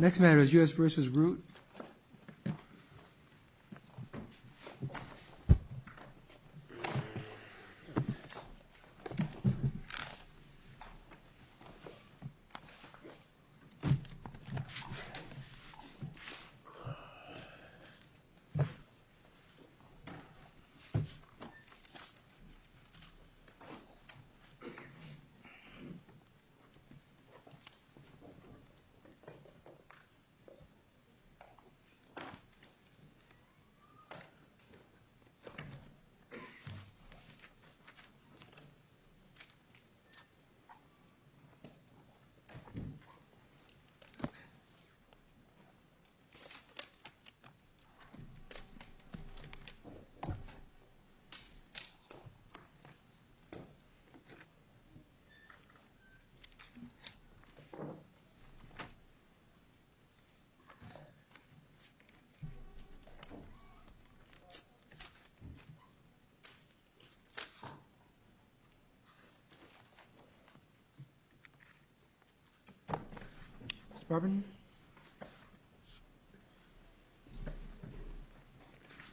Next matter is U.S. v. Root. U.S. v. Root Next matter is U.S. v. Root.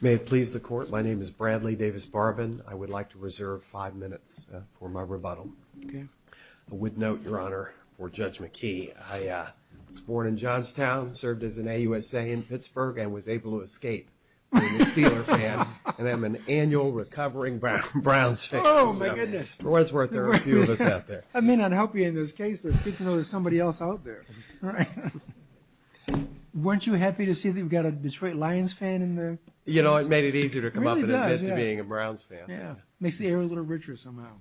May it please the Court, my name is Bradley Davis Barbin. I would like to reserve five minutes for my rebuttal. I would note, Your Honor, for Judge McKee. I was born in Johnstown, served as an AUSA in Pittsburgh, and was able to escape being a Steelers fan. And I'm an annual recovering Browns fan. Oh, my goodness. For what it's worth, there are a few of us out there. I may not help you in this case, but it's good to know there's somebody else out there. Right. Weren't you happy to see that we've got a Detroit Lions fan in there? You know, it made it easier to come up and admit to being a Browns fan. Yeah, makes the area a little richer somehow.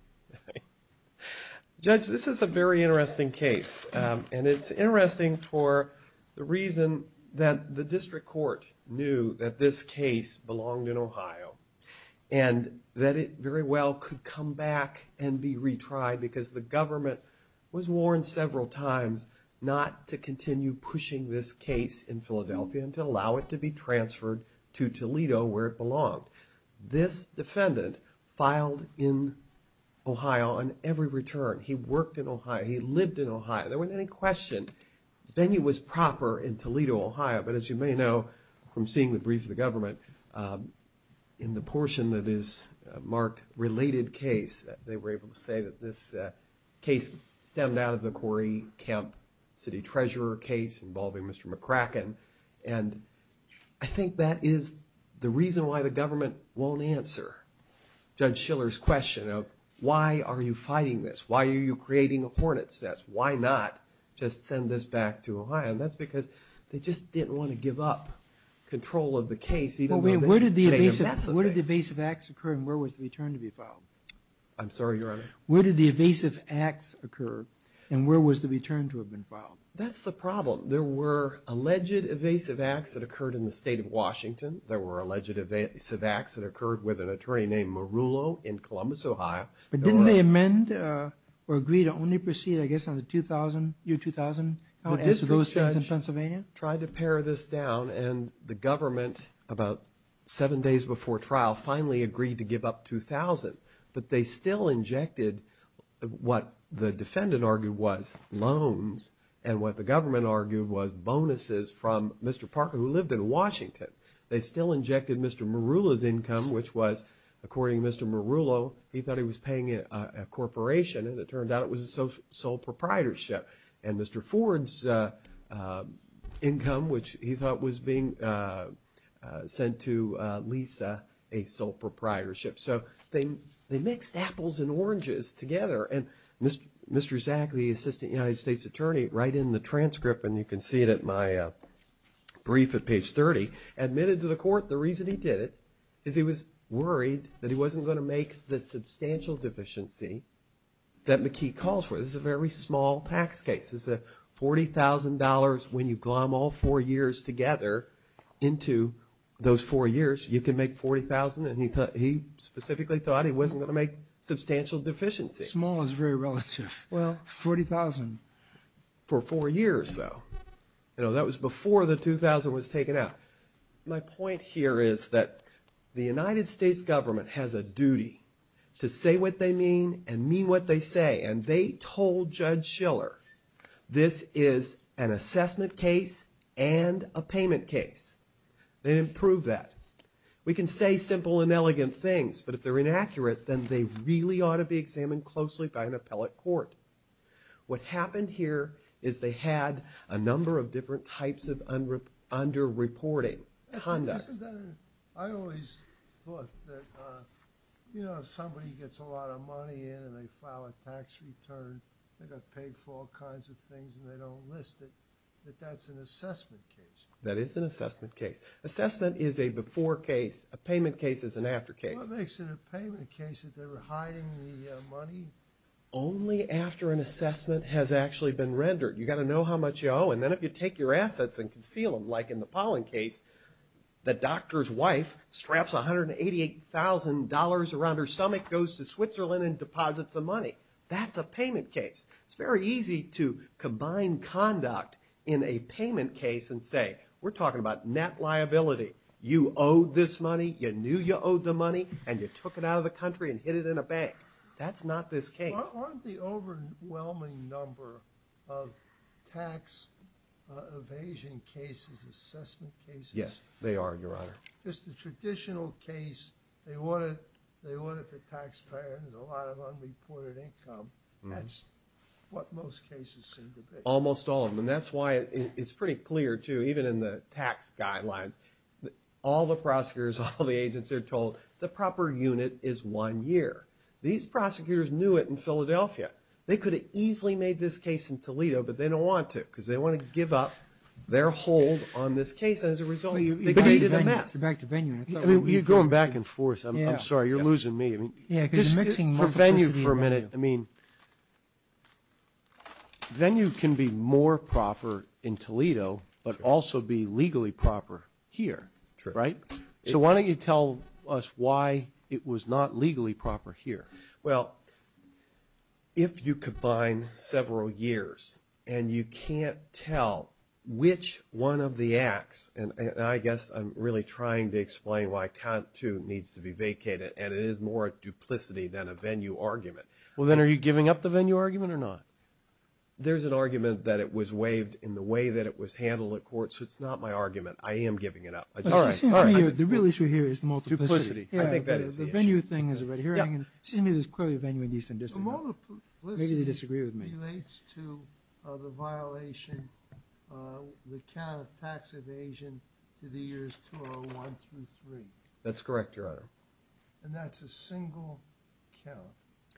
Judge, this is a very interesting case. And it's interesting for the reason that the district court knew that this case belonged in Ohio. And that it very well could come back and be retried because the government was warned several times not to continue pushing this case in Philadelphia and to allow it to be transferred to Toledo, where it belonged. This defendant filed in Ohio on every return. He worked in Ohio. He lived in Ohio. There wasn't any question the venue was proper in Toledo, Ohio. But as you may know from seeing the brief of the government, in the portion that is marked related case, they were able to say that this case stemmed out of the Corey Kemp City Treasurer case involving Mr. McCracken. And I think that is the reason why the government won't answer Judge Schiller's question of, why are you fighting this? Why are you creating a hornet's nest? Why not just send this back to Ohio? And that's because they just didn't want to give up control of the case. Where did the evasive acts occur and where was the return to be filed? I'm sorry, Your Honor. Where did the evasive acts occur and where was the return to have been filed? That's the problem. Well, there were alleged evasive acts that occurred in the state of Washington. There were alleged evasive acts that occurred with an attorney named Marullo in Columbus, Ohio. But didn't they amend or agree to only proceed, I guess, on the year 2000? The district judge tried to pare this down and the government, about seven days before trial, finally agreed to give up 2000. But they still injected what the defendant argued was loans and what the government argued was bonuses from Mr. Parker, who lived in Washington. They still injected Mr. Marullo's income, which was, according to Mr. Marullo, he thought he was paying a corporation and it turned out it was a sole proprietorship. And Mr. Ford's income, which he thought was being sent to Lisa, a sole proprietorship. So they mixed apples and oranges together. And Mr. Zack, the assistant United States attorney, right in the transcript, and you can see it at my brief at page 30, admitted to the court the reason he did it is he was worried that he wasn't going to make the substantial deficiency that McKee calls for. This is a very small tax case. It's $40,000 when you glom all four years together into those four years. You can make $40,000, and he specifically thought he wasn't going to make substantial deficiencies. Small is very relative. Well, $40,000. For four years, though. That was before the 2000 was taken out. My point here is that the United States government has a duty to say what they mean and mean what they say, and they told Judge Schiller this is an assessment case and a payment case. They didn't prove that. We can say simple and elegant things, but if they're inaccurate, then they really ought to be examined closely by an appellate court. What happened here is they had a number of different types of underreporting, conducts. I always thought that, you know, if somebody gets a lot of money in and they file a tax return, they got paid for all kinds of things and they don't list it, that that's an assessment case. That is an assessment case. Assessment is a before case. A payment case is an after case. What makes it a payment case if they were hiding the money? Only after an assessment has actually been rendered. You've got to know how much you owe, and then if you take your assets and conceal them, like in the Pollen case, the doctor's wife straps $188,000 around her stomach, goes to Switzerland and deposits the money. That's a payment case. It's very easy to combine conduct in a payment case and say, we're talking about net liability. You owe this money, you knew you owed the money, and you took it out of the country and hid it in a bank. That's not this case. Aren't the overwhelming number of tax evasion cases assessment cases? Yes, they are, Your Honor. Just the traditional case, they audit the taxpayer, there's a lot of unreported income. That's what most cases seem to be. Almost all of them, and that's why it's pretty clear, too, even in the tax guidelines, all the prosecutors, all the agents are told the proper unit is one year. These prosecutors knew it in Philadelphia. They could have easily made this case in Toledo, but they don't want to because they want to give up their hold on this case, and as a result, they did a mess. You're going back and forth. I'm sorry, you're losing me. For Venue for a minute, I mean, Venue can be more proper in Toledo but also be legally proper here, right? So why don't you tell us why it was not legally proper here? Well, if you combine several years and you can't tell which one of the acts, and I guess I'm really trying to explain why Cantu needs to be vacated, and it is more a duplicity than a Venue argument. Well, then are you giving up the Venue argument or not? There's an argument that it was waived in the way that it was handled at court, so it's not my argument. I am giving it up. All right. The real issue here is the multiplicity. Duplicity. I think that is the issue. Yeah, the Venue thing is right here. It seems to me there's clearly a Venue in the Eastern District. Maybe they disagree with me. The multiplicity relates to the violation, the count of tax evasion to the years 201 through 3. That's correct, Your Honor. And that's a single count,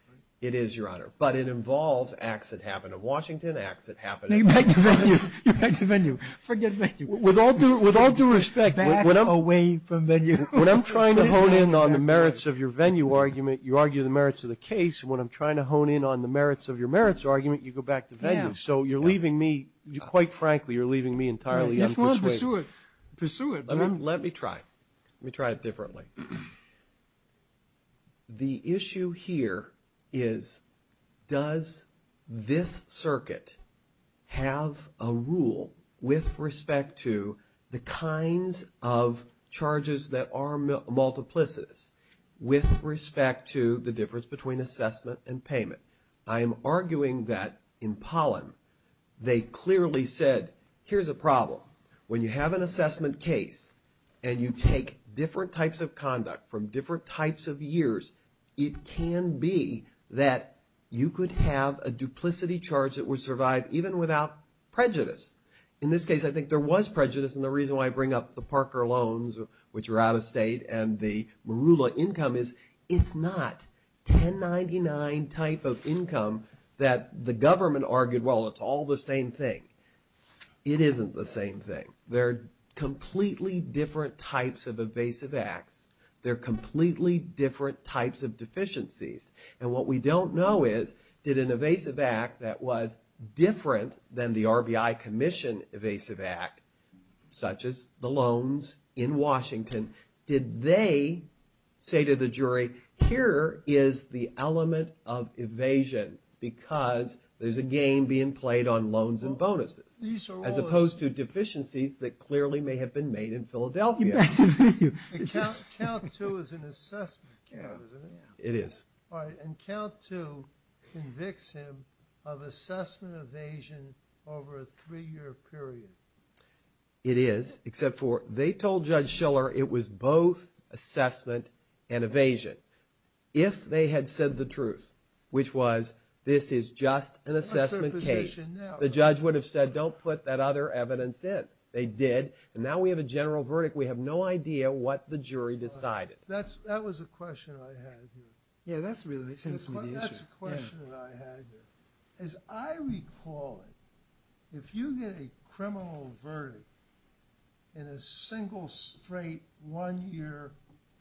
right? It is, Your Honor. But it involves acts that happen in Washington, acts that happen in Venue. You're back to Venue. Forget Venue. With all due respect. Back away from Venue. When I'm trying to hone in on the merits of your Venue argument, you argue the merits of the case. When I'm trying to hone in on the merits of your merits argument, you go back to Venue. So you're leaving me, quite frankly, you're leaving me entirely unpersuaded. Pursue it. Pursue it. Let me try. Let me try it differently. The issue here is, does this circuit have a rule with respect to the kinds of charges that are multiplicities with respect to the difference between assessment and payment? I am arguing that in Pollen, they clearly said, here's a problem. When you have an assessment case and you take different types of conduct from different types of years, it can be that you could have a duplicity charge that would survive even without prejudice. In this case, I think there was prejudice. And the reason why I bring up the Parker loans, which are out of state, and the Marula income is it's not 1099 type of income that the government argued, well, it's all the same thing. It isn't the same thing. They're completely different types of evasive acts. They're completely different types of deficiencies. And what we don't know is, did an evasive act that was different than the RBI Commission evasive act, such as the loans in Washington, did they say to the jury, here is the element of evasion because there's a game being played on loans and bonuses, as opposed to deficiencies that clearly may have been made in Philadelphia. And count two is an assessment count, isn't it? It is. And count two convicts him of assessment evasion over a three-year period. It is, except for they told Judge Schiller it was both assessment and evasion. If they had said the truth, which was, this is just an assessment case, the judge would have said, don't put that other evidence in. They did, and now we have a general verdict. We have no idea what the jury decided. That was a question I had here. Yeah, that's really the issue. That's a question that I had here. As I recall it, if you get a criminal verdict in a single, straight, one-year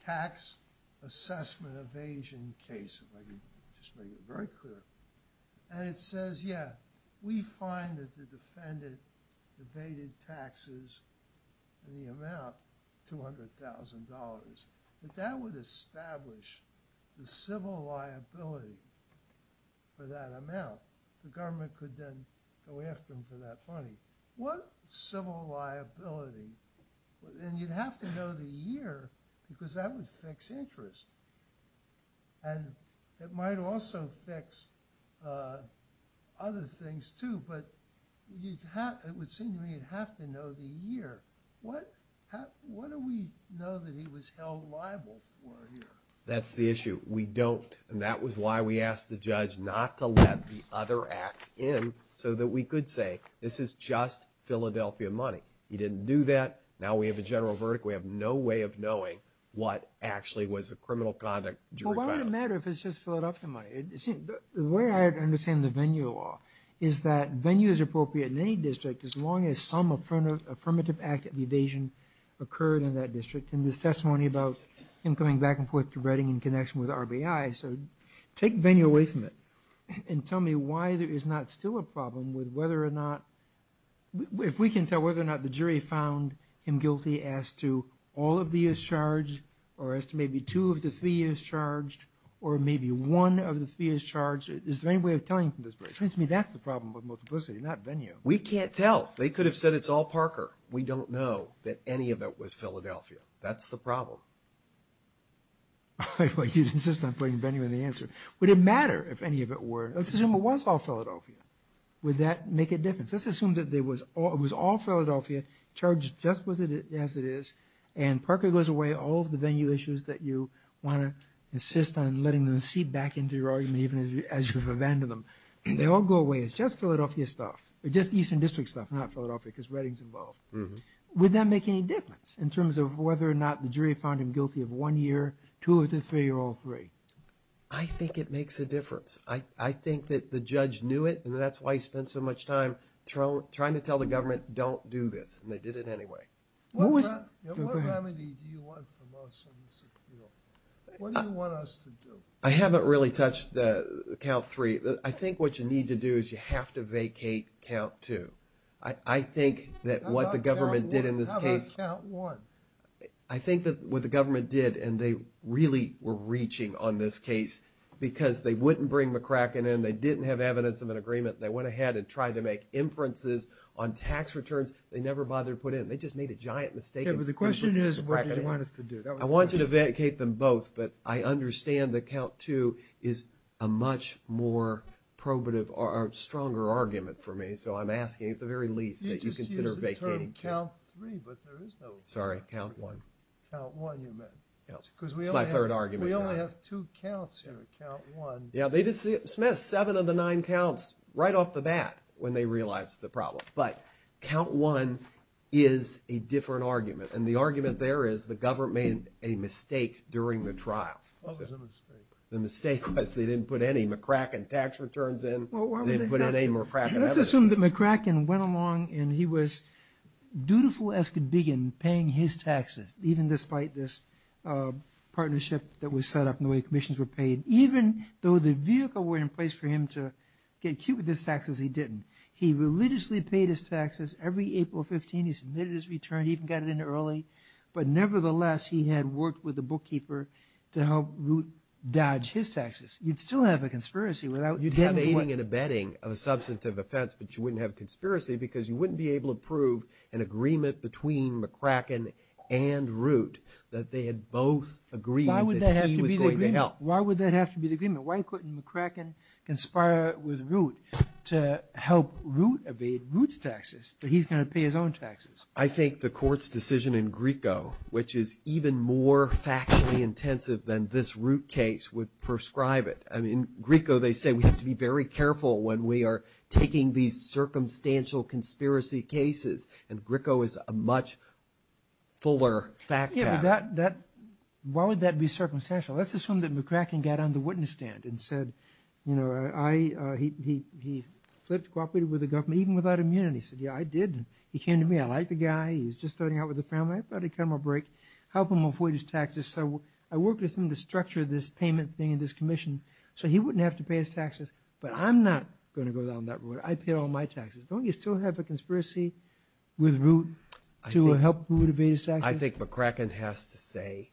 tax assessment evasion case, if I could just make it very clear, and it says, yeah, we find that the defendant evaded taxes in the amount $200,000, that that would establish the civil liability for that amount. The government could then go after him for that money. What civil liability? And you'd have to know the year because that would fix interest. And it might also fix other things, too. But it would seem to me you'd have to know the year. What do we know that he was held liable for here? That's the issue. We don't, and that was why we asked the judge not to let the other acts in so that we could say, this is just Philadelphia money. He didn't do that. Now we have a general verdict. We have no way of knowing what actually was the criminal conduct jury found. Well, why would it matter if it's just Philadelphia money? The way I understand the venue law is that venue is appropriate in any district as long as some affirmative act of evasion occurred in that district. And there's testimony about him coming back and forth to Reading in connection with RBI. So take venue away from it and tell me why there is not still a problem with whether or not, if we can tell whether or not the jury found him guilty as to all of the years charged or as to maybe two of the three years charged or maybe one of the three years charged. Is there any way of telling from this? It seems to me that's the problem with multiplicity, not venue. We can't tell. They could have said it's all Parker. We don't know that any of it was Philadelphia. That's the problem. I thought you'd insist on putting venue in the answer. Would it matter if any of it were? Let's assume it was all Philadelphia. Would that make a difference? Let's assume that it was all Philadelphia, charged just as it is, and Parker goes away, all of the venue issues that you want to insist on letting them seep back into your argument even as you've abandoned them. They all go away. It's just Philadelphia stuff, just Eastern District stuff, not Philadelphia because Reading's involved. Would that make any difference in terms of whether or not the jury found him guilty of one year, two of the three or all three? I think it makes a difference. I think that the judge knew it, and that's why he spent so much time trying to tell the government don't do this, and they did it anyway. What remedy do you want from us on this appeal? What do you want us to do? I haven't really touched count three. I think what you need to do is you have to vacate count two. I think that what the government did in this case— How about count one? I think that what the government did, and they really were reaching on this case because they wouldn't bring McCracken in. They didn't have evidence of an agreement. They went ahead and tried to make inferences on tax returns. They never bothered to put in. They just made a giant mistake. But the question is what do you want us to do? I want you to vacate them both, but I understand that count two is a much more probative or stronger argument for me, so I'm asking at the very least that you consider vacating two. You just used the term count three, but there is no— Sorry, count one. Count one, you meant? No, it's my third argument. We only have two counts here, count one. Yeah, they dismissed seven of the nine counts right off the bat when they realized the problem. But count one is a different argument, and the argument there is the government made a mistake during the trial. What was the mistake? The mistake was they didn't put any McCracken tax returns in. They didn't put in any McCracken evidence. Let's assume that McCracken went along and he was dutiful as could be in the way commissions were paid. Even though the vehicle were in place for him to get cute with his taxes, he didn't. He religiously paid his taxes. Every April 15, he submitted his return. He even got it in early. But nevertheless, he had worked with the bookkeeper to help Root dodge his taxes. You'd still have a conspiracy without— You'd have aiding and abetting of a substantive offense, but you wouldn't have a conspiracy because you wouldn't be able to prove an agreement between McCracken and Root that they had both agreed— Why would that have to be the agreement? —that he was going to help? Why would that have to be the agreement? Why couldn't McCracken conspire with Root to help Root abet Root's taxes, but he's going to pay his own taxes? I think the court's decision in Grieco, which is even more factually intensive than this Root case, would prescribe it. In Grieco, they say we have to be very careful when we are taking these Why would that be circumstantial? Let's assume that McCracken got on the witness stand and said, he flipped, cooperated with the government, even without immunity. He said, yeah, I did. He came to me. I like the guy. He was just starting out with the family. I thought I'd cut him a break, help him avoid his taxes. So I worked with him to structure this payment thing and this commission so he wouldn't have to pay his taxes. But I'm not going to go down that road. I pay all my taxes. Don't you still have a conspiracy with Root to help Root abet his taxes? I think McCracken has to say,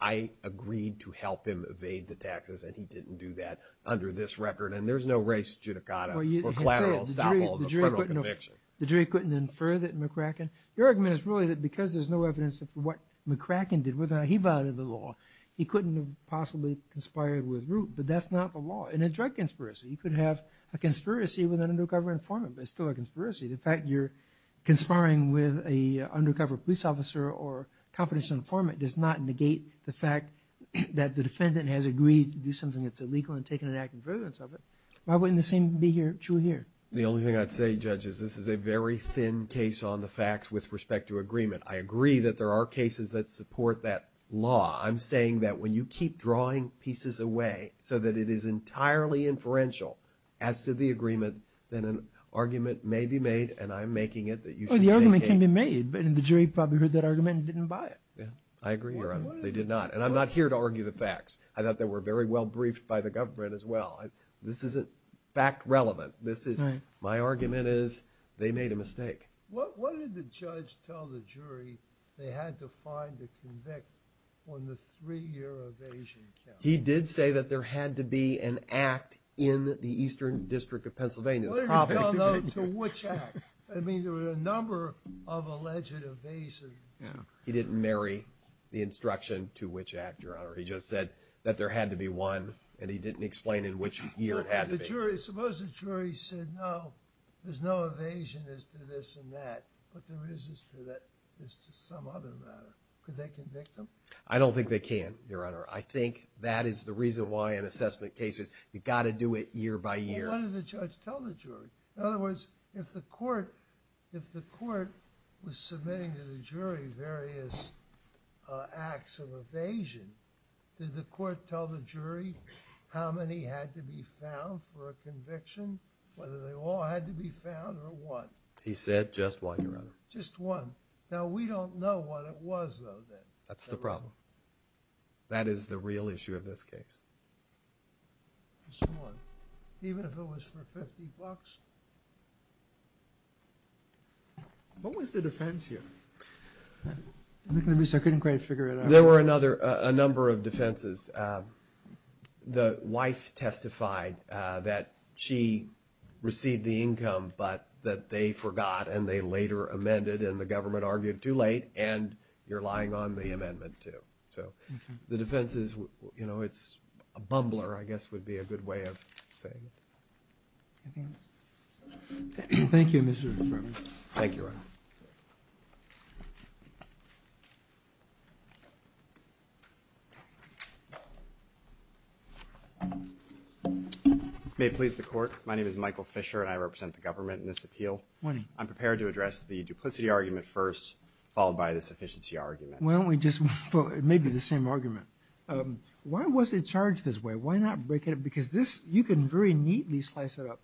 I agreed to help him evade the taxes, and he didn't do that under this record. And there's no race judicata or collateral to stop all the criminal conviction. The jury couldn't infer that McCracken, your argument is really that because there's no evidence of what McCracken did, whether or not he violated the law, he couldn't have possibly conspired with Root. But that's not the law. In a drug conspiracy, you could have a conspiracy with an undercover informant, but it's still a conspiracy. The fact you're conspiring with an undercover police officer or confidential informant does not negate the fact that the defendant has agreed to do something that's illegal and taken an active preference of it. Why wouldn't the same be true here? The only thing I'd say, Judge, is this is a very thin case on the facts with respect to agreement. I agree that there are cases that support that law. I'm saying that when you keep drawing pieces away so that it is entirely inferential as to the agreement, then an argument may be made, and I'm making it that you should negate. The argument can be made, but the jury probably heard that argument and didn't buy it. I agree, Your Honor. They did not. And I'm not here to argue the facts. I thought they were very well briefed by the government as well. This isn't fact relevant. My argument is they made a mistake. What did the judge tell the jury they had to find to convict on the three-year evasion count? He did say that there had to be an act in the Eastern District of Pennsylvania. What did he tell them to which act? I mean, there were a number of alleged evasions. He didn't marry the instruction to which act, Your Honor. He just said that there had to be one, and he didn't explain in which year it had to be. Suppose the jury said, no, there's no evasion as to this and that, but there is as to some other matter. Could they convict them? I don't think they can, Your Honor. I think that is the reason why in assessment cases you've got to do it year by year. What did the judge tell the jury? In other words, if the court was submitting to the jury various acts of evasion, did the court tell the jury how many had to be found for a conviction, whether they all had to be found or one? He said just one, Your Honor. Just one. Now, we don't know what it was, though, then. That's the problem. That is the real issue of this case. Just one. Even if it was for 50 bucks? What was the defense here? I'm looking at this. I couldn't quite figure it out. There were a number of defenses. The wife testified that she received the income, but that they forgot and they later amended, and the government argued too late, and you're lying on the amendment, too. So the defense is a bumbler, I guess, would be a good way of saying it. Thank you, Mr. McBride. Thank you, Your Honor. May it please the Court. My name is Michael Fisher, and I represent the government in this appeal. Morning. I'm prepared to address the duplicity argument first, followed by the sufficiency argument. Why don't we just, well, it may be the same argument. Why was it charged this way? Why not break it up? Because this, you can very neatly slice it up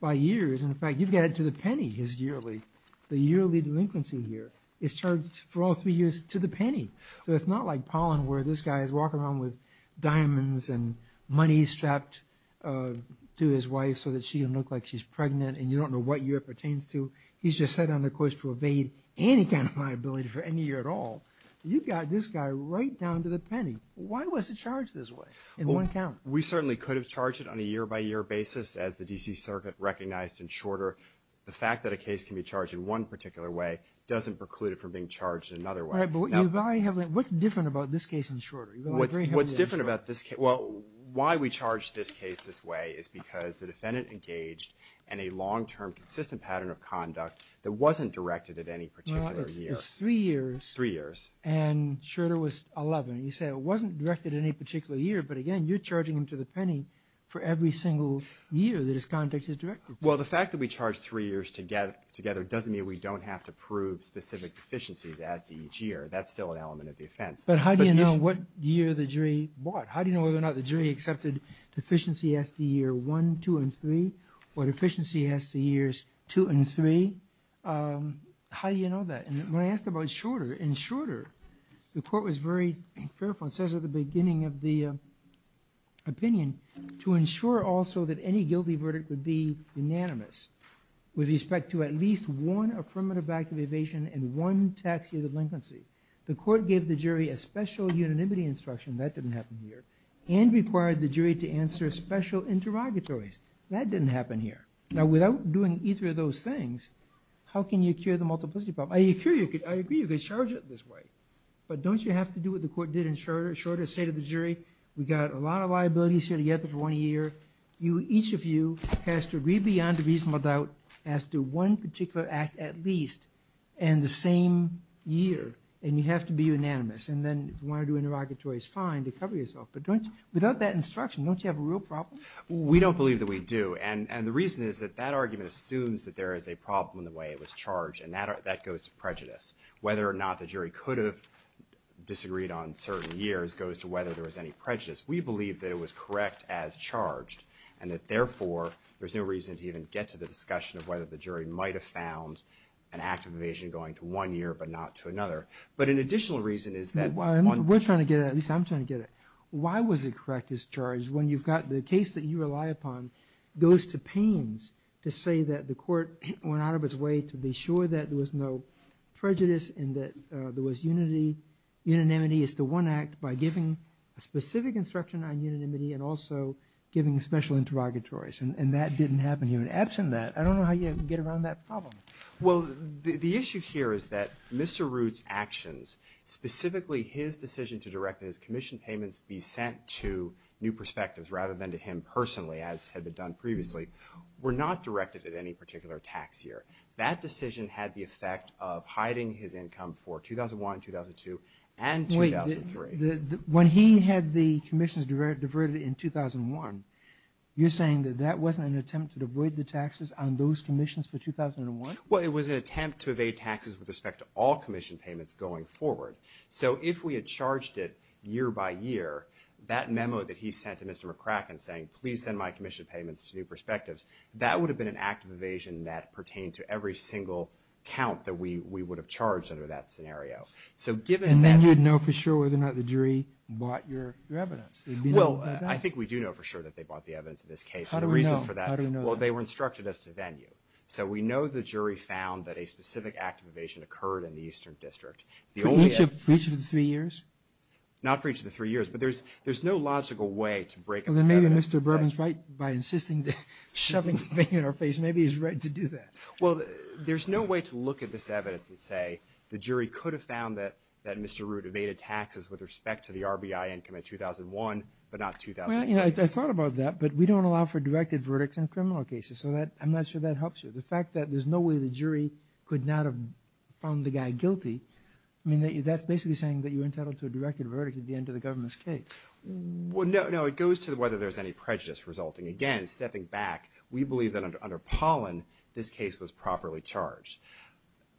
by years. In fact, you've got it to the penny, his yearly, the yearly delinquency here. It's charged for all three years to the penny. So it's not like Pollen, where this guy is walking around with diamonds and money strapped to his wife so that she'll look like she's pregnant and you don't know what year it pertains to. He's just set on the course to evade any kind of liability for any year at all. You've got this guy right down to the penny. Why was it charged this way in one count? Well, we certainly could have charged it on a year-by-year basis, as the D.C. Circuit recognized in Shorter. The fact that a case can be charged in one particular way doesn't preclude it from being charged another way. All right, but what's different about this case in Shorter? What's different about this case? Well, why we charge this case this way is because the defendant engaged in a long-term consistent pattern of conduct that wasn't directed at any particular year. Well, it's three years. Three years. And Shorter was 11. You say it wasn't directed at any particular year. But again, you're charging him to the penny for every single year that his conduct is directed. Well, the fact that we charge three years together doesn't mean we don't have to prove specific deficiencies as to each year. That's still an element of the offense. But how do you know what year the jury bought? How do you know whether or not the jury accepted deficiencies as to year one, two, and three, or deficiencies as to years two and three? How do you know that? And when I asked about Shorter, in Shorter, the court was very careful. It says at the beginning of the opinion, to ensure also that any guilty verdict would be unanimous with respect to at least one affirmative act of evasion and one tax year of delinquency. The court gave the jury a special unanimity instruction. That didn't happen here. And required the jury to answer special interrogatories. That didn't happen here. Now, without doing either of those things, how can you cure the multiplicity problem? I agree you could charge it this way. But don't you have to do what the court did in Shorter? Shorter said to the jury, we've got a lot of liabilities here together for one year. Each of you has to read beyond reasonable doubt as to one particular act at least in the same year. And you have to be unanimous. And then if you want to do interrogatories, fine, to cover yourself. But without that instruction, don't you have a real problem? We don't believe that we do. And the reason is that that argument assumes that there is a problem in the way it was charged. And that goes to prejudice. Whether or not the jury could have disagreed on certain years goes to whether there was any prejudice. We believe that it was correct as charged. And that, therefore, there's no reason to even get to the discussion of whether the jury might have found an act of evasion going to one year but not to another. But an additional reason is that one- We're trying to get it. At least I'm trying to get it. Why was it correct as charged when you've got the case that you rely upon goes to pains to say that the court went out of its way to be sure that there was no prejudice and that there was unanimity as to one act by giving a specific instruction on unanimity and also giving special interrogatories? And that didn't happen here. And absent that, I don't know how you get around that problem. Well, the issue here is that Mr. Root's actions, specifically his decision to direct his commission payments be sent to New Perspectives rather than to him personally, as had been done previously, were not directed at any particular tax year. That decision had the effect of hiding his income for 2001, 2002, and 2003. Wait. When he had the commissions diverted in 2001, you're saying that that wasn't an attempt to avoid the taxes on those commissions for 2001? Well, it was an attempt to evade taxes with respect to all commission payments going forward. So if we had charged it year by year, that memo that he sent to Mr. McCracken saying, please send my commission payments to New Perspectives, that would have been an act of evasion that pertained to every single count that we would have charged under that scenario. And then you'd know for sure whether or not the jury bought your evidence. Well, I think we do know for sure that they bought the evidence in this case. How do we know? Well, they were instructed us to venue. So we know the jury found that a specific act of evasion occurred in the Eastern District. For each of the three years? But there's no logical way to break it. Well, then maybe Mr. Bourbon is right by insisting, shoving the thing in our face. Maybe he's right to do that. Well, there's no way to look at this evidence and say the jury could have found that Mr. Root evaded taxes with respect to the RBI income in 2001, but not 2008. I thought about that, but we don't allow for directed verdicts in criminal cases. So I'm not sure that helps you. The fact that there's no way the jury could not have found the guy guilty, I mean, that's basically saying that you're entitled to a directed verdict at the end of the government's case. No, it goes to whether there's any prejudice resulting. Again, stepping back, we believe that under Pollin, this case was properly charged.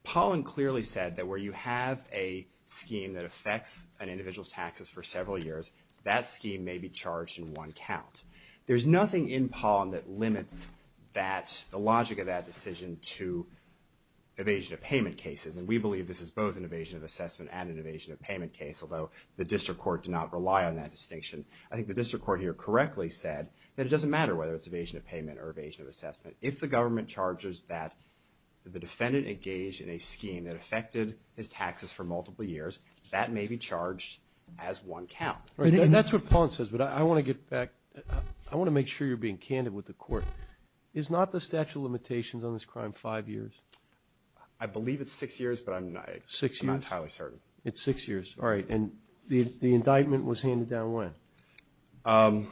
Pollin clearly said that where you have a scheme that affects an individual's taxes for several years, that scheme may be charged in one count. There's nothing in Pollin that limits the logic of that decision to evasion of payment cases, and we believe this is both an evasion of assessment and an evasion of payment case, although the district court did not rely on that distinction. I think the district court here correctly said that it doesn't matter whether it's evasion of payment or evasion of assessment. If the government charges that the defendant engaged in a scheme that affected his taxes for multiple years, that may be charged as one count. That's what Pollin says, but I want to get back. I want to make sure you're being candid with the court. Is not the statute of limitations on this crime five years? I believe it's six years, but I'm not entirely certain. It's six years. All right, and the indictment was handed down when?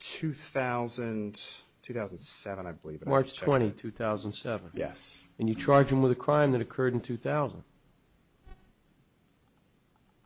2007, I believe. March 20, 2007. Yes. And you charged him with a crime that occurred in 2000.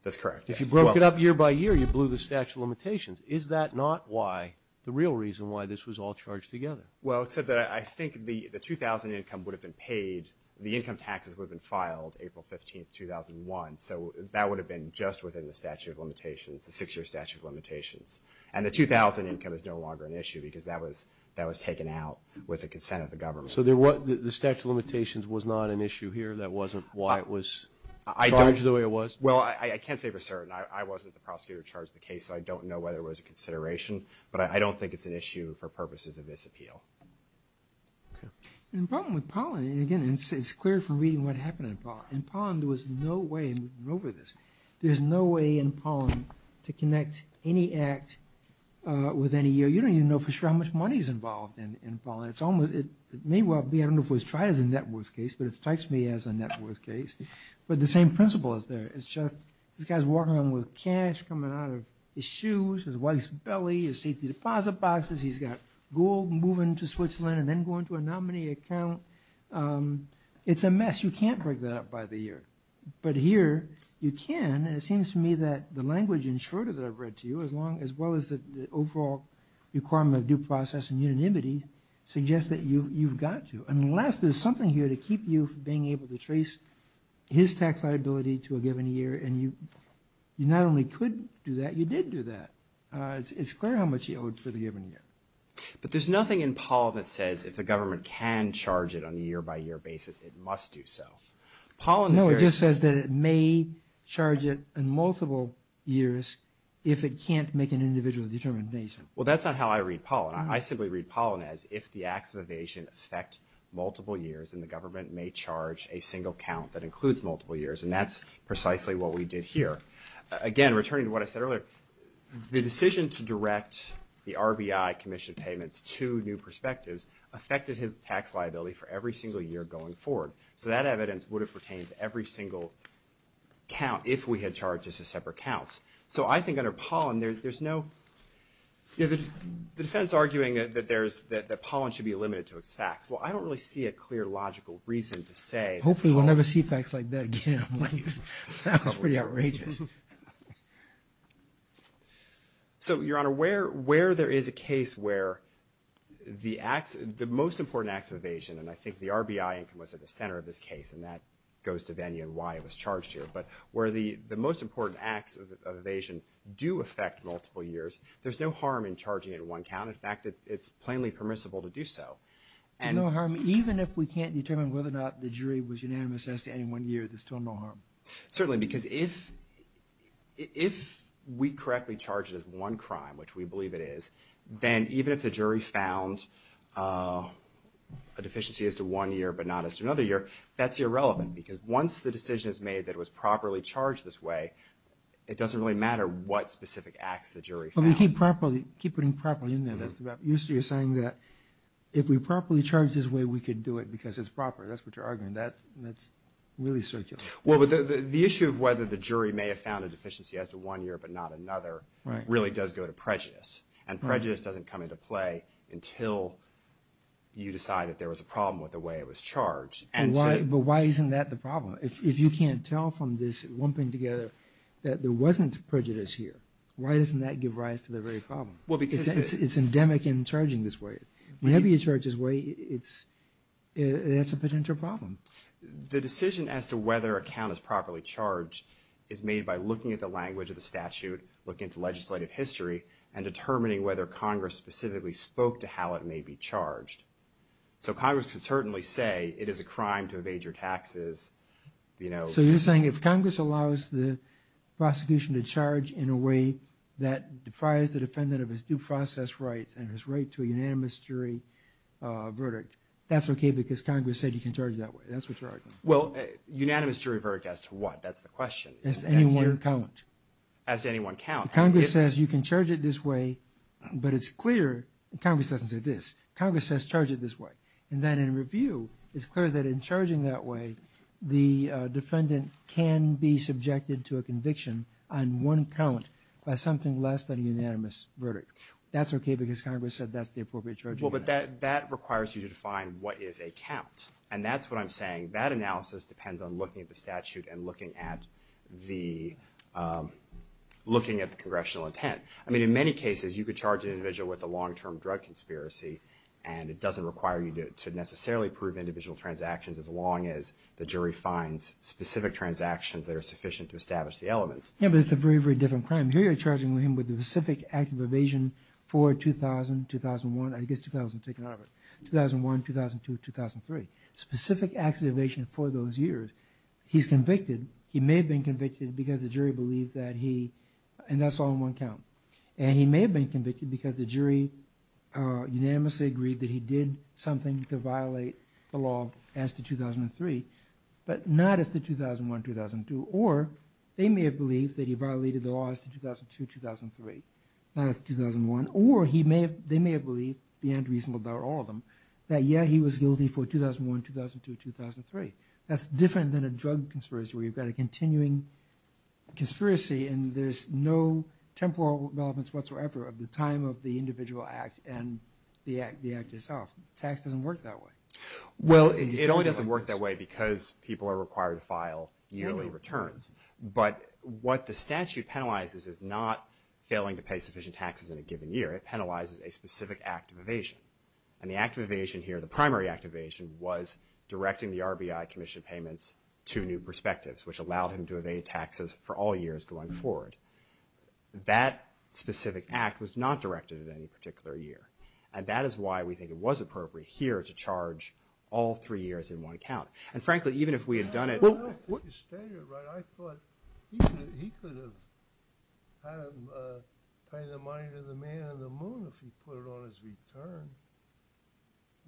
That's correct. If you broke it up year by year, you blew the statute of limitations. Is that not why, the real reason why this was all charged together? Well, except that I think the 2000 income would have been paid, the income taxes would have been filed April 15, 2001, so that would have been just within the statute of limitations, the six-year statute of limitations. And the 2000 income is no longer an issue because that was taken out with the consent of the government. So the statute of limitations was not an issue here? That wasn't why it was charged the way it was? Well, I can't say for certain. I wasn't the prosecutor who charged the case, so I don't know whether it was a consideration, but I don't think it's an issue for purposes of this appeal. Okay. The problem with Pollen, again, it's clear from reading what happened in Pollen. In Pollen, there was no way, and we've been over this, there's no way in Pollen to connect any act with any year. You don't even know for sure how much money is involved in Pollen. It may well be, I don't know if it was tried as a net worth case, but it strikes me as a net worth case. But the same principle is there. It's just this guy's walking around with cash coming out of his shoes, his wife's belly, his safety deposit boxes. He's got gold moving to Switzerland and then going to a nominee account. It's a mess. You can't break that up by the year. But here you can, and it seems to me that the language in Schroeder that I've read to you, as well as the overall requirement of due process and unanimity, suggests that you've got to, unless there's something here to keep you from being able to trace his tax liability to a given year, and you not only could do that, you did do that. It's clear how much he owed for the given year. But there's nothing in Pollen that says if the government can charge it on a year-by-year basis, it must do so. No, it just says that it may charge it in multiple years if it can't make an individual determination. Well, that's not how I read Pollen. I simply read Pollen as if the acts of evasion affect multiple years, then the government may charge a single count that includes multiple years, and that's precisely what we did here. Again, returning to what I said earlier, the decision to direct the RBI commission payments to new perspectives affected his tax liability for every single year going forward. So that evidence would have pertained to every single count, if we had charged this to separate counts. So I think under Pollen, there's no, the defense arguing that Pollen should be limited to its facts. Well, I don't really see a clear logical reason to say that Pollen Hopefully we'll never see facts like that again. That was pretty outrageous. So, Your Honor, where there is a case where the acts, the most important acts of evasion, and I think the RBI income was at the center of this case, and that goes to Vennia and why it was charged here. But where the most important acts of evasion do affect multiple years, there's no harm in charging it in one count. In fact, it's plainly permissible to do so. There's no harm even if we can't determine whether or not the jury was Certainly, because if we correctly charge it as one crime, which we believe it is, then even if the jury found a deficiency as to one year, but not as to another year, that's irrelevant. Because once the decision is made that it was properly charged this way, it doesn't really matter what specific acts the jury found. But we keep properly, keep putting properly in there. You're saying that if we properly charge this way, we could do it because it's proper. That's what you're arguing. That's really circular. Well, but the issue of whether the jury may have found a deficiency as to one year but not another really does go to prejudice. And prejudice doesn't come into play until you decide that there was a problem with the way it was charged. But why isn't that the problem? If you can't tell from this lumping together that there wasn't prejudice here, why doesn't that give rise to the very problem? It's endemic in charging this way. Whenever you charge this way, that's a potential problem. The decision as to whether a count is properly charged is made by looking at the language of the statute, looking at the legislative history, and determining whether Congress specifically spoke to how it may be charged. So Congress could certainly say it is a crime to evade your taxes. So you're saying if Congress allows the prosecution to charge in a way that defies the defendant of his due process rights and his right to a unanimous jury verdict, that's okay because Congress said you can charge that way. That's what you're arguing. Well, unanimous jury verdict as to what? That's the question. As to any one count. As to any one count. Congress says you can charge it this way, but it's clear. Congress doesn't say this. Congress says charge it this way. And then in review, it's clear that in charging that way, the defendant can be subjected to a conviction on one count by something less than a unanimous verdict. That's okay because Congress said that's the appropriate charge. Well, but that requires you to define what is a count, and that's what I'm saying. That analysis depends on looking at the statute and looking at the congressional intent. I mean, in many cases, you could charge an individual with a long-term drug conspiracy, and it doesn't require you to necessarily prove individual transactions as long as the jury finds specific transactions that are sufficient to establish the elements. Yeah, but it's a very, very different crime. Here you're charging him with a specific act of evasion for 2000, 2001, I guess 2000, 2001, 2002, 2003. Specific acts of evasion for those years. He's convicted. He may have been convicted because the jury believed that he, and that's all on one count. And he may have been convicted because the jury unanimously agreed that he did something to violate the law as to 2003, but not as to 2001, 2002. Or they may have believed that he violated the laws to 2002, 2003, not as to 2001. Or they may have believed, beyond reason about all of them, that, yeah, he was guilty for 2001, 2002, 2003. That's different than a drug conspiracy where you've got a continuing conspiracy and there's no temporal relevance whatsoever of the time of the individual act and the act itself. Tax doesn't work that way. Well, it only doesn't work that way because people are required to file yearly returns. But what the statute penalizes is not failing to pay sufficient taxes in a given year. It penalizes a specific act of evasion. And the act of evasion here, the primary act of evasion, was directing the RBI commission payments to new perspectives, which allowed him to evade taxes for all years going forward. That specific act was not directed at any particular year. And that is why we think it was appropriate here to charge all three years in one count. And frankly, even if we had done it... I don't know if you stated it right. I thought he could have had him pay the money to the man on the moon if he put it on his return.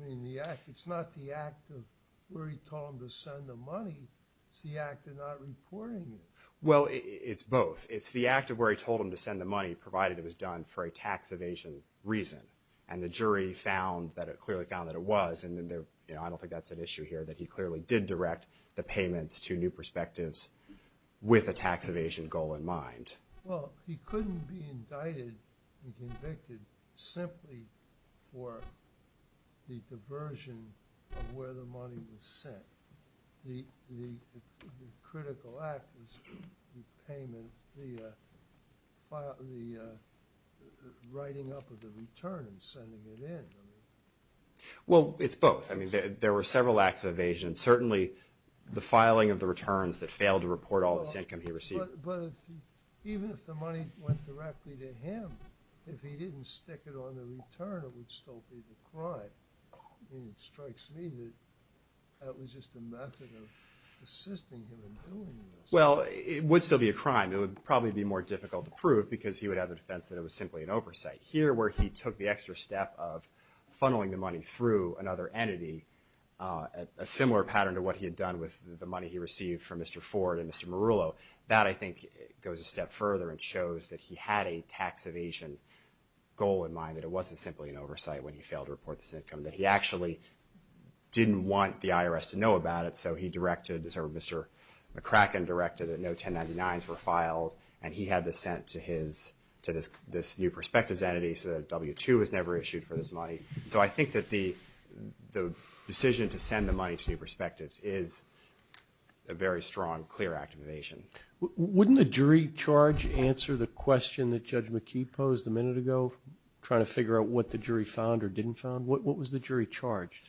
I mean, it's not the act of where he told him to send the money. It's the act of not reporting it. Well, it's both. It's the act of where he told him to send the money, provided it was done for a tax evasion reason. And the jury found, clearly found that it was, and I don't think that's an issue here, that he clearly did direct the payments to new perspectives with a tax evasion goal in mind. Well, he couldn't be indicted and convicted simply for the diversion of where the money was sent. The critical act was the payment, the writing up of the return and sending it in. Well, it's both. I mean, there were several acts of evasion, certainly the filing of the returns that failed to report all this income he received. But even if the money went directly to him, if he didn't stick it on the return, it would still be a crime. I mean, it strikes me that that was just a method of assisting him in doing this. Well, it would still be a crime. It would probably be more difficult to prove because he would have the defense that it was simply an oversight. Here, where he took the extra step of funneling the money through another entity, a similar pattern to what he had done with the money he received from Mr. Ford and Mr. Marullo, that, I think, goes a step further and shows that he had a tax evasion goal in mind, that it wasn't simply an oversight when he failed to report this income, that he actually didn't want the IRS to know about it, so Mr. McCracken directed that no 1099s were filed, and he had this sent to this new perspectives entity so that W-2 was never issued for this money. So I think that the decision to send the money to new perspectives is a very strong, clear act of evasion. Wouldn't the jury charge answer the question that Judge McKee posed a minute ago, trying to figure out what the jury found or didn't find? What was the jury charge?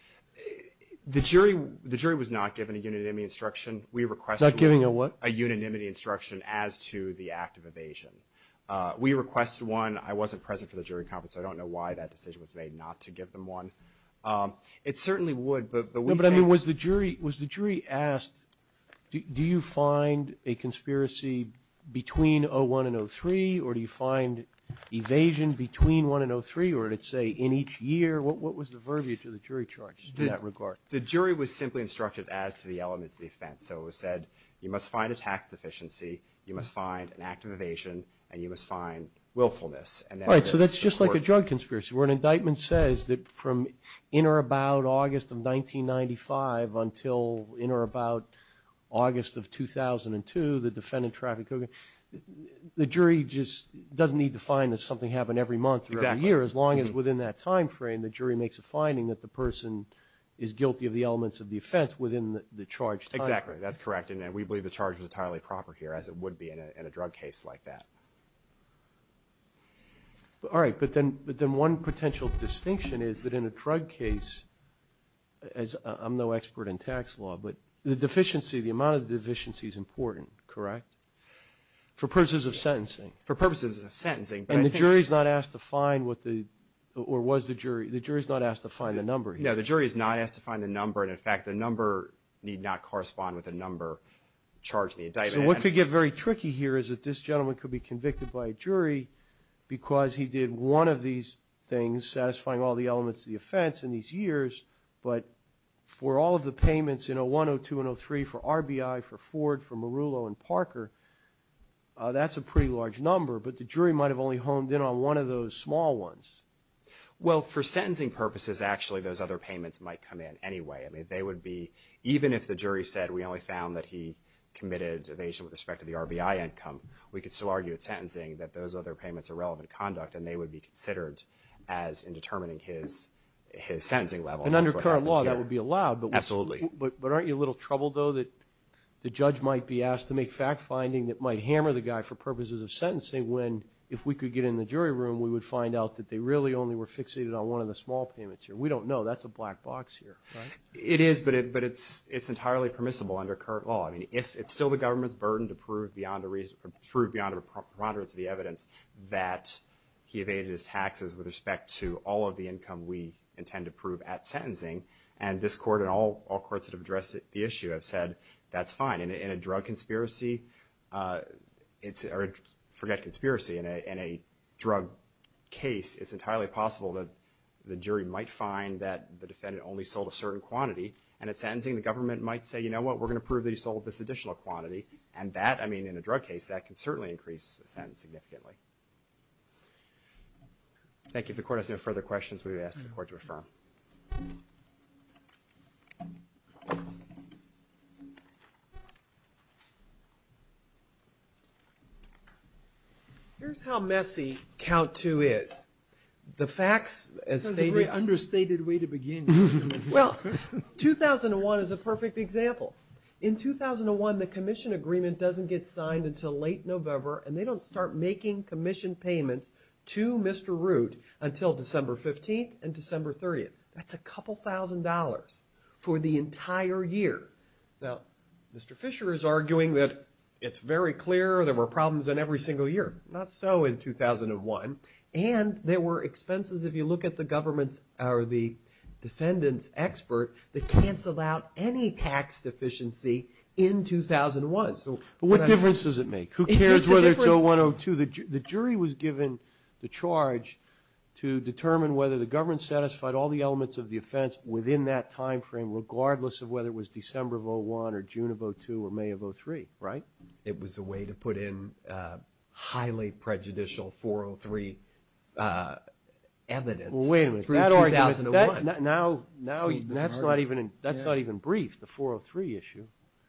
The jury was not given a unanimity instruction. Not giving a what? A unanimity instruction as to the act of evasion. We requested one. I wasn't present for the jury conference, so I don't know why that decision was made not to give them one. It certainly would, but we think... No, but I mean, was the jury asked, do you find a conspiracy between 01 and 03, or do you find evasion between 01 and 03, or did it say in each year? What was the verbiage of the jury charge in that regard? The jury was simply instructed as to the elements of the offense. So it was said, you must find a tax deficiency, you must find an act of evasion, and you must find willfulness. All right, so that's just like a drug conspiracy, where an indictment says that from in or about August of 1995 until in or about August of 2002, the defendant trafficked cocaine. The jury just doesn't need to find that something happened every month or every year, as long as within that time frame, the jury makes a finding that the person is guilty of the elements of the offense within the charged time frame. Exactly, that's correct, and we believe the charge was entirely proper here, as it would be in a drug case like that. All right, but then one potential distinction is that in a drug case, as I'm no expert in tax law, but the deficiency, the amount of deficiency is important, correct? For purposes of sentencing. For purposes of sentencing. And the jury is not asked to find what the, or was the jury, the jury is not asked to find the number. No, the jury is not asked to find the number, and in fact the number need not correspond with the number charged in the indictment. So what could get very tricky here is that this gentleman could be convicted by a jury because he did one of these things, satisfying all the elements of the offense in these years, but for all of the payments in 01, 02, and 03, for RBI, for Ford, for Merulo, and Parker, that's a pretty large number, but the jury might have only honed in on one of those small ones. Well, for sentencing purposes, actually, those other payments might come in anyway. I mean, they would be, even if the jury said, we only found that he committed evasion with respect to the RBI income, we could still argue at sentencing that those other payments are relevant conduct and they would be considered as in determining his sentencing level. And under current law, that would be allowed. Absolutely. But aren't you a little troubled, though, that the judge might be asked to make fact-finding that might hammer the guy for purposes of sentencing when, if we could get in the jury room, we would find out that they really only were fixated on one of the small payments here. I mean, we don't know. That's a black box here, right? It is, but it's entirely permissible under current law. I mean, it's still the government's burden to prove beyond the prerogatives of the evidence that he evaded his taxes with respect to all of the income we intend to prove at sentencing, and this Court and all courts that have addressed the issue have said that's fine. In a drug conspiracy, or forget conspiracy, in a drug case, it's entirely possible that the jury might find that the defendant only sold a certain quantity, and at sentencing the government might say, you know what, we're going to prove that he sold this additional quantity, and that, I mean, in a drug case, that can certainly increase a sentence significantly. Thank you. If the Court has no further questions, we would ask the Court to affirm. Here's how messy count two is. The facts as stated. That's a very understated way to begin. Well, 2001 is a perfect example. In 2001, the commission agreement doesn't get signed until late November, and they don't start making commission payments to Mr. Root until December 15th and December 30th. That's a couple thousand dollars for the entire year. Now, Mr. Fisher is arguing that it's very clear there were problems in every single year. Not so in 2001. And there were expenses, if you look at the government's or the defendant's expert, that cancel out any tax deficiency in 2001. There was. But what difference does it make? Who cares whether it's 01 or 02? The jury was given the charge to determine whether the government satisfied all the elements of the offense within that time frame, regardless of whether it was December of 01 or June of 02 or May of 03, right? It was a way to put in highly prejudicial 403 evidence through 2001. Now that's not even brief, the 403 issue.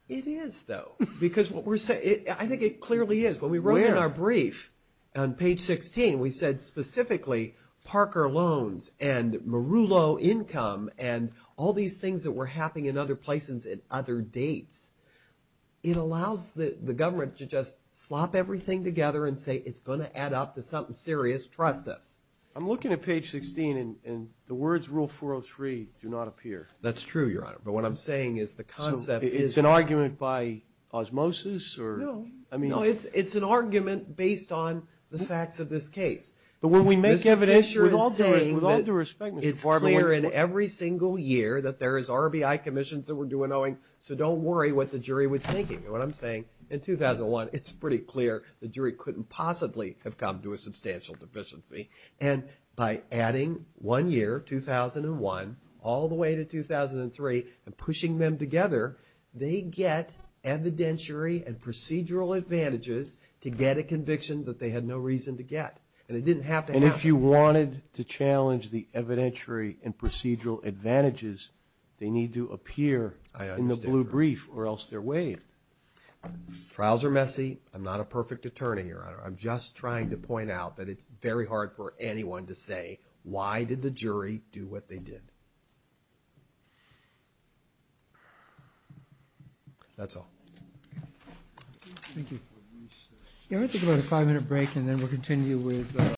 It is, though, because what we're saying, I think it clearly is. When we wrote in our brief on page 16, we said specifically Parker loans and Merulo income and all these things that were happening in other places at other dates, it allows the government to just slop everything together and say it's going to add up to something serious. Trust us. I'm looking at page 16, and the words rule 403 do not appear. That's true, Your Honor. But what I'm saying is the concept is. So it's an argument by osmosis or? No. I mean. No, it's an argument based on the facts of this case. But when we make evidence. Mr. Fisher is saying. With all due respect. It's clear in every single year that there is RBI commissions that we're doing Owing, so don't worry what the jury was thinking. You know what I'm saying? In 2001, it's pretty clear the jury couldn't possibly have come to a substantial deficiency. And by adding one year, 2001, all the way to 2003 and pushing them together, they get evidentiary and procedural advantages to get a conviction that they had no reason to get. And it didn't have to happen. And if you wanted to challenge the evidentiary and procedural advantages, they need to appear in the blue brief or else they're waived. Trials are messy. I'm not a perfect attorney, Your Honor. I'm just trying to point out that it's very hard for anyone to say why did the jury do what they did. That's all. Thank you. We'll take about a five minute break and then we'll continue with.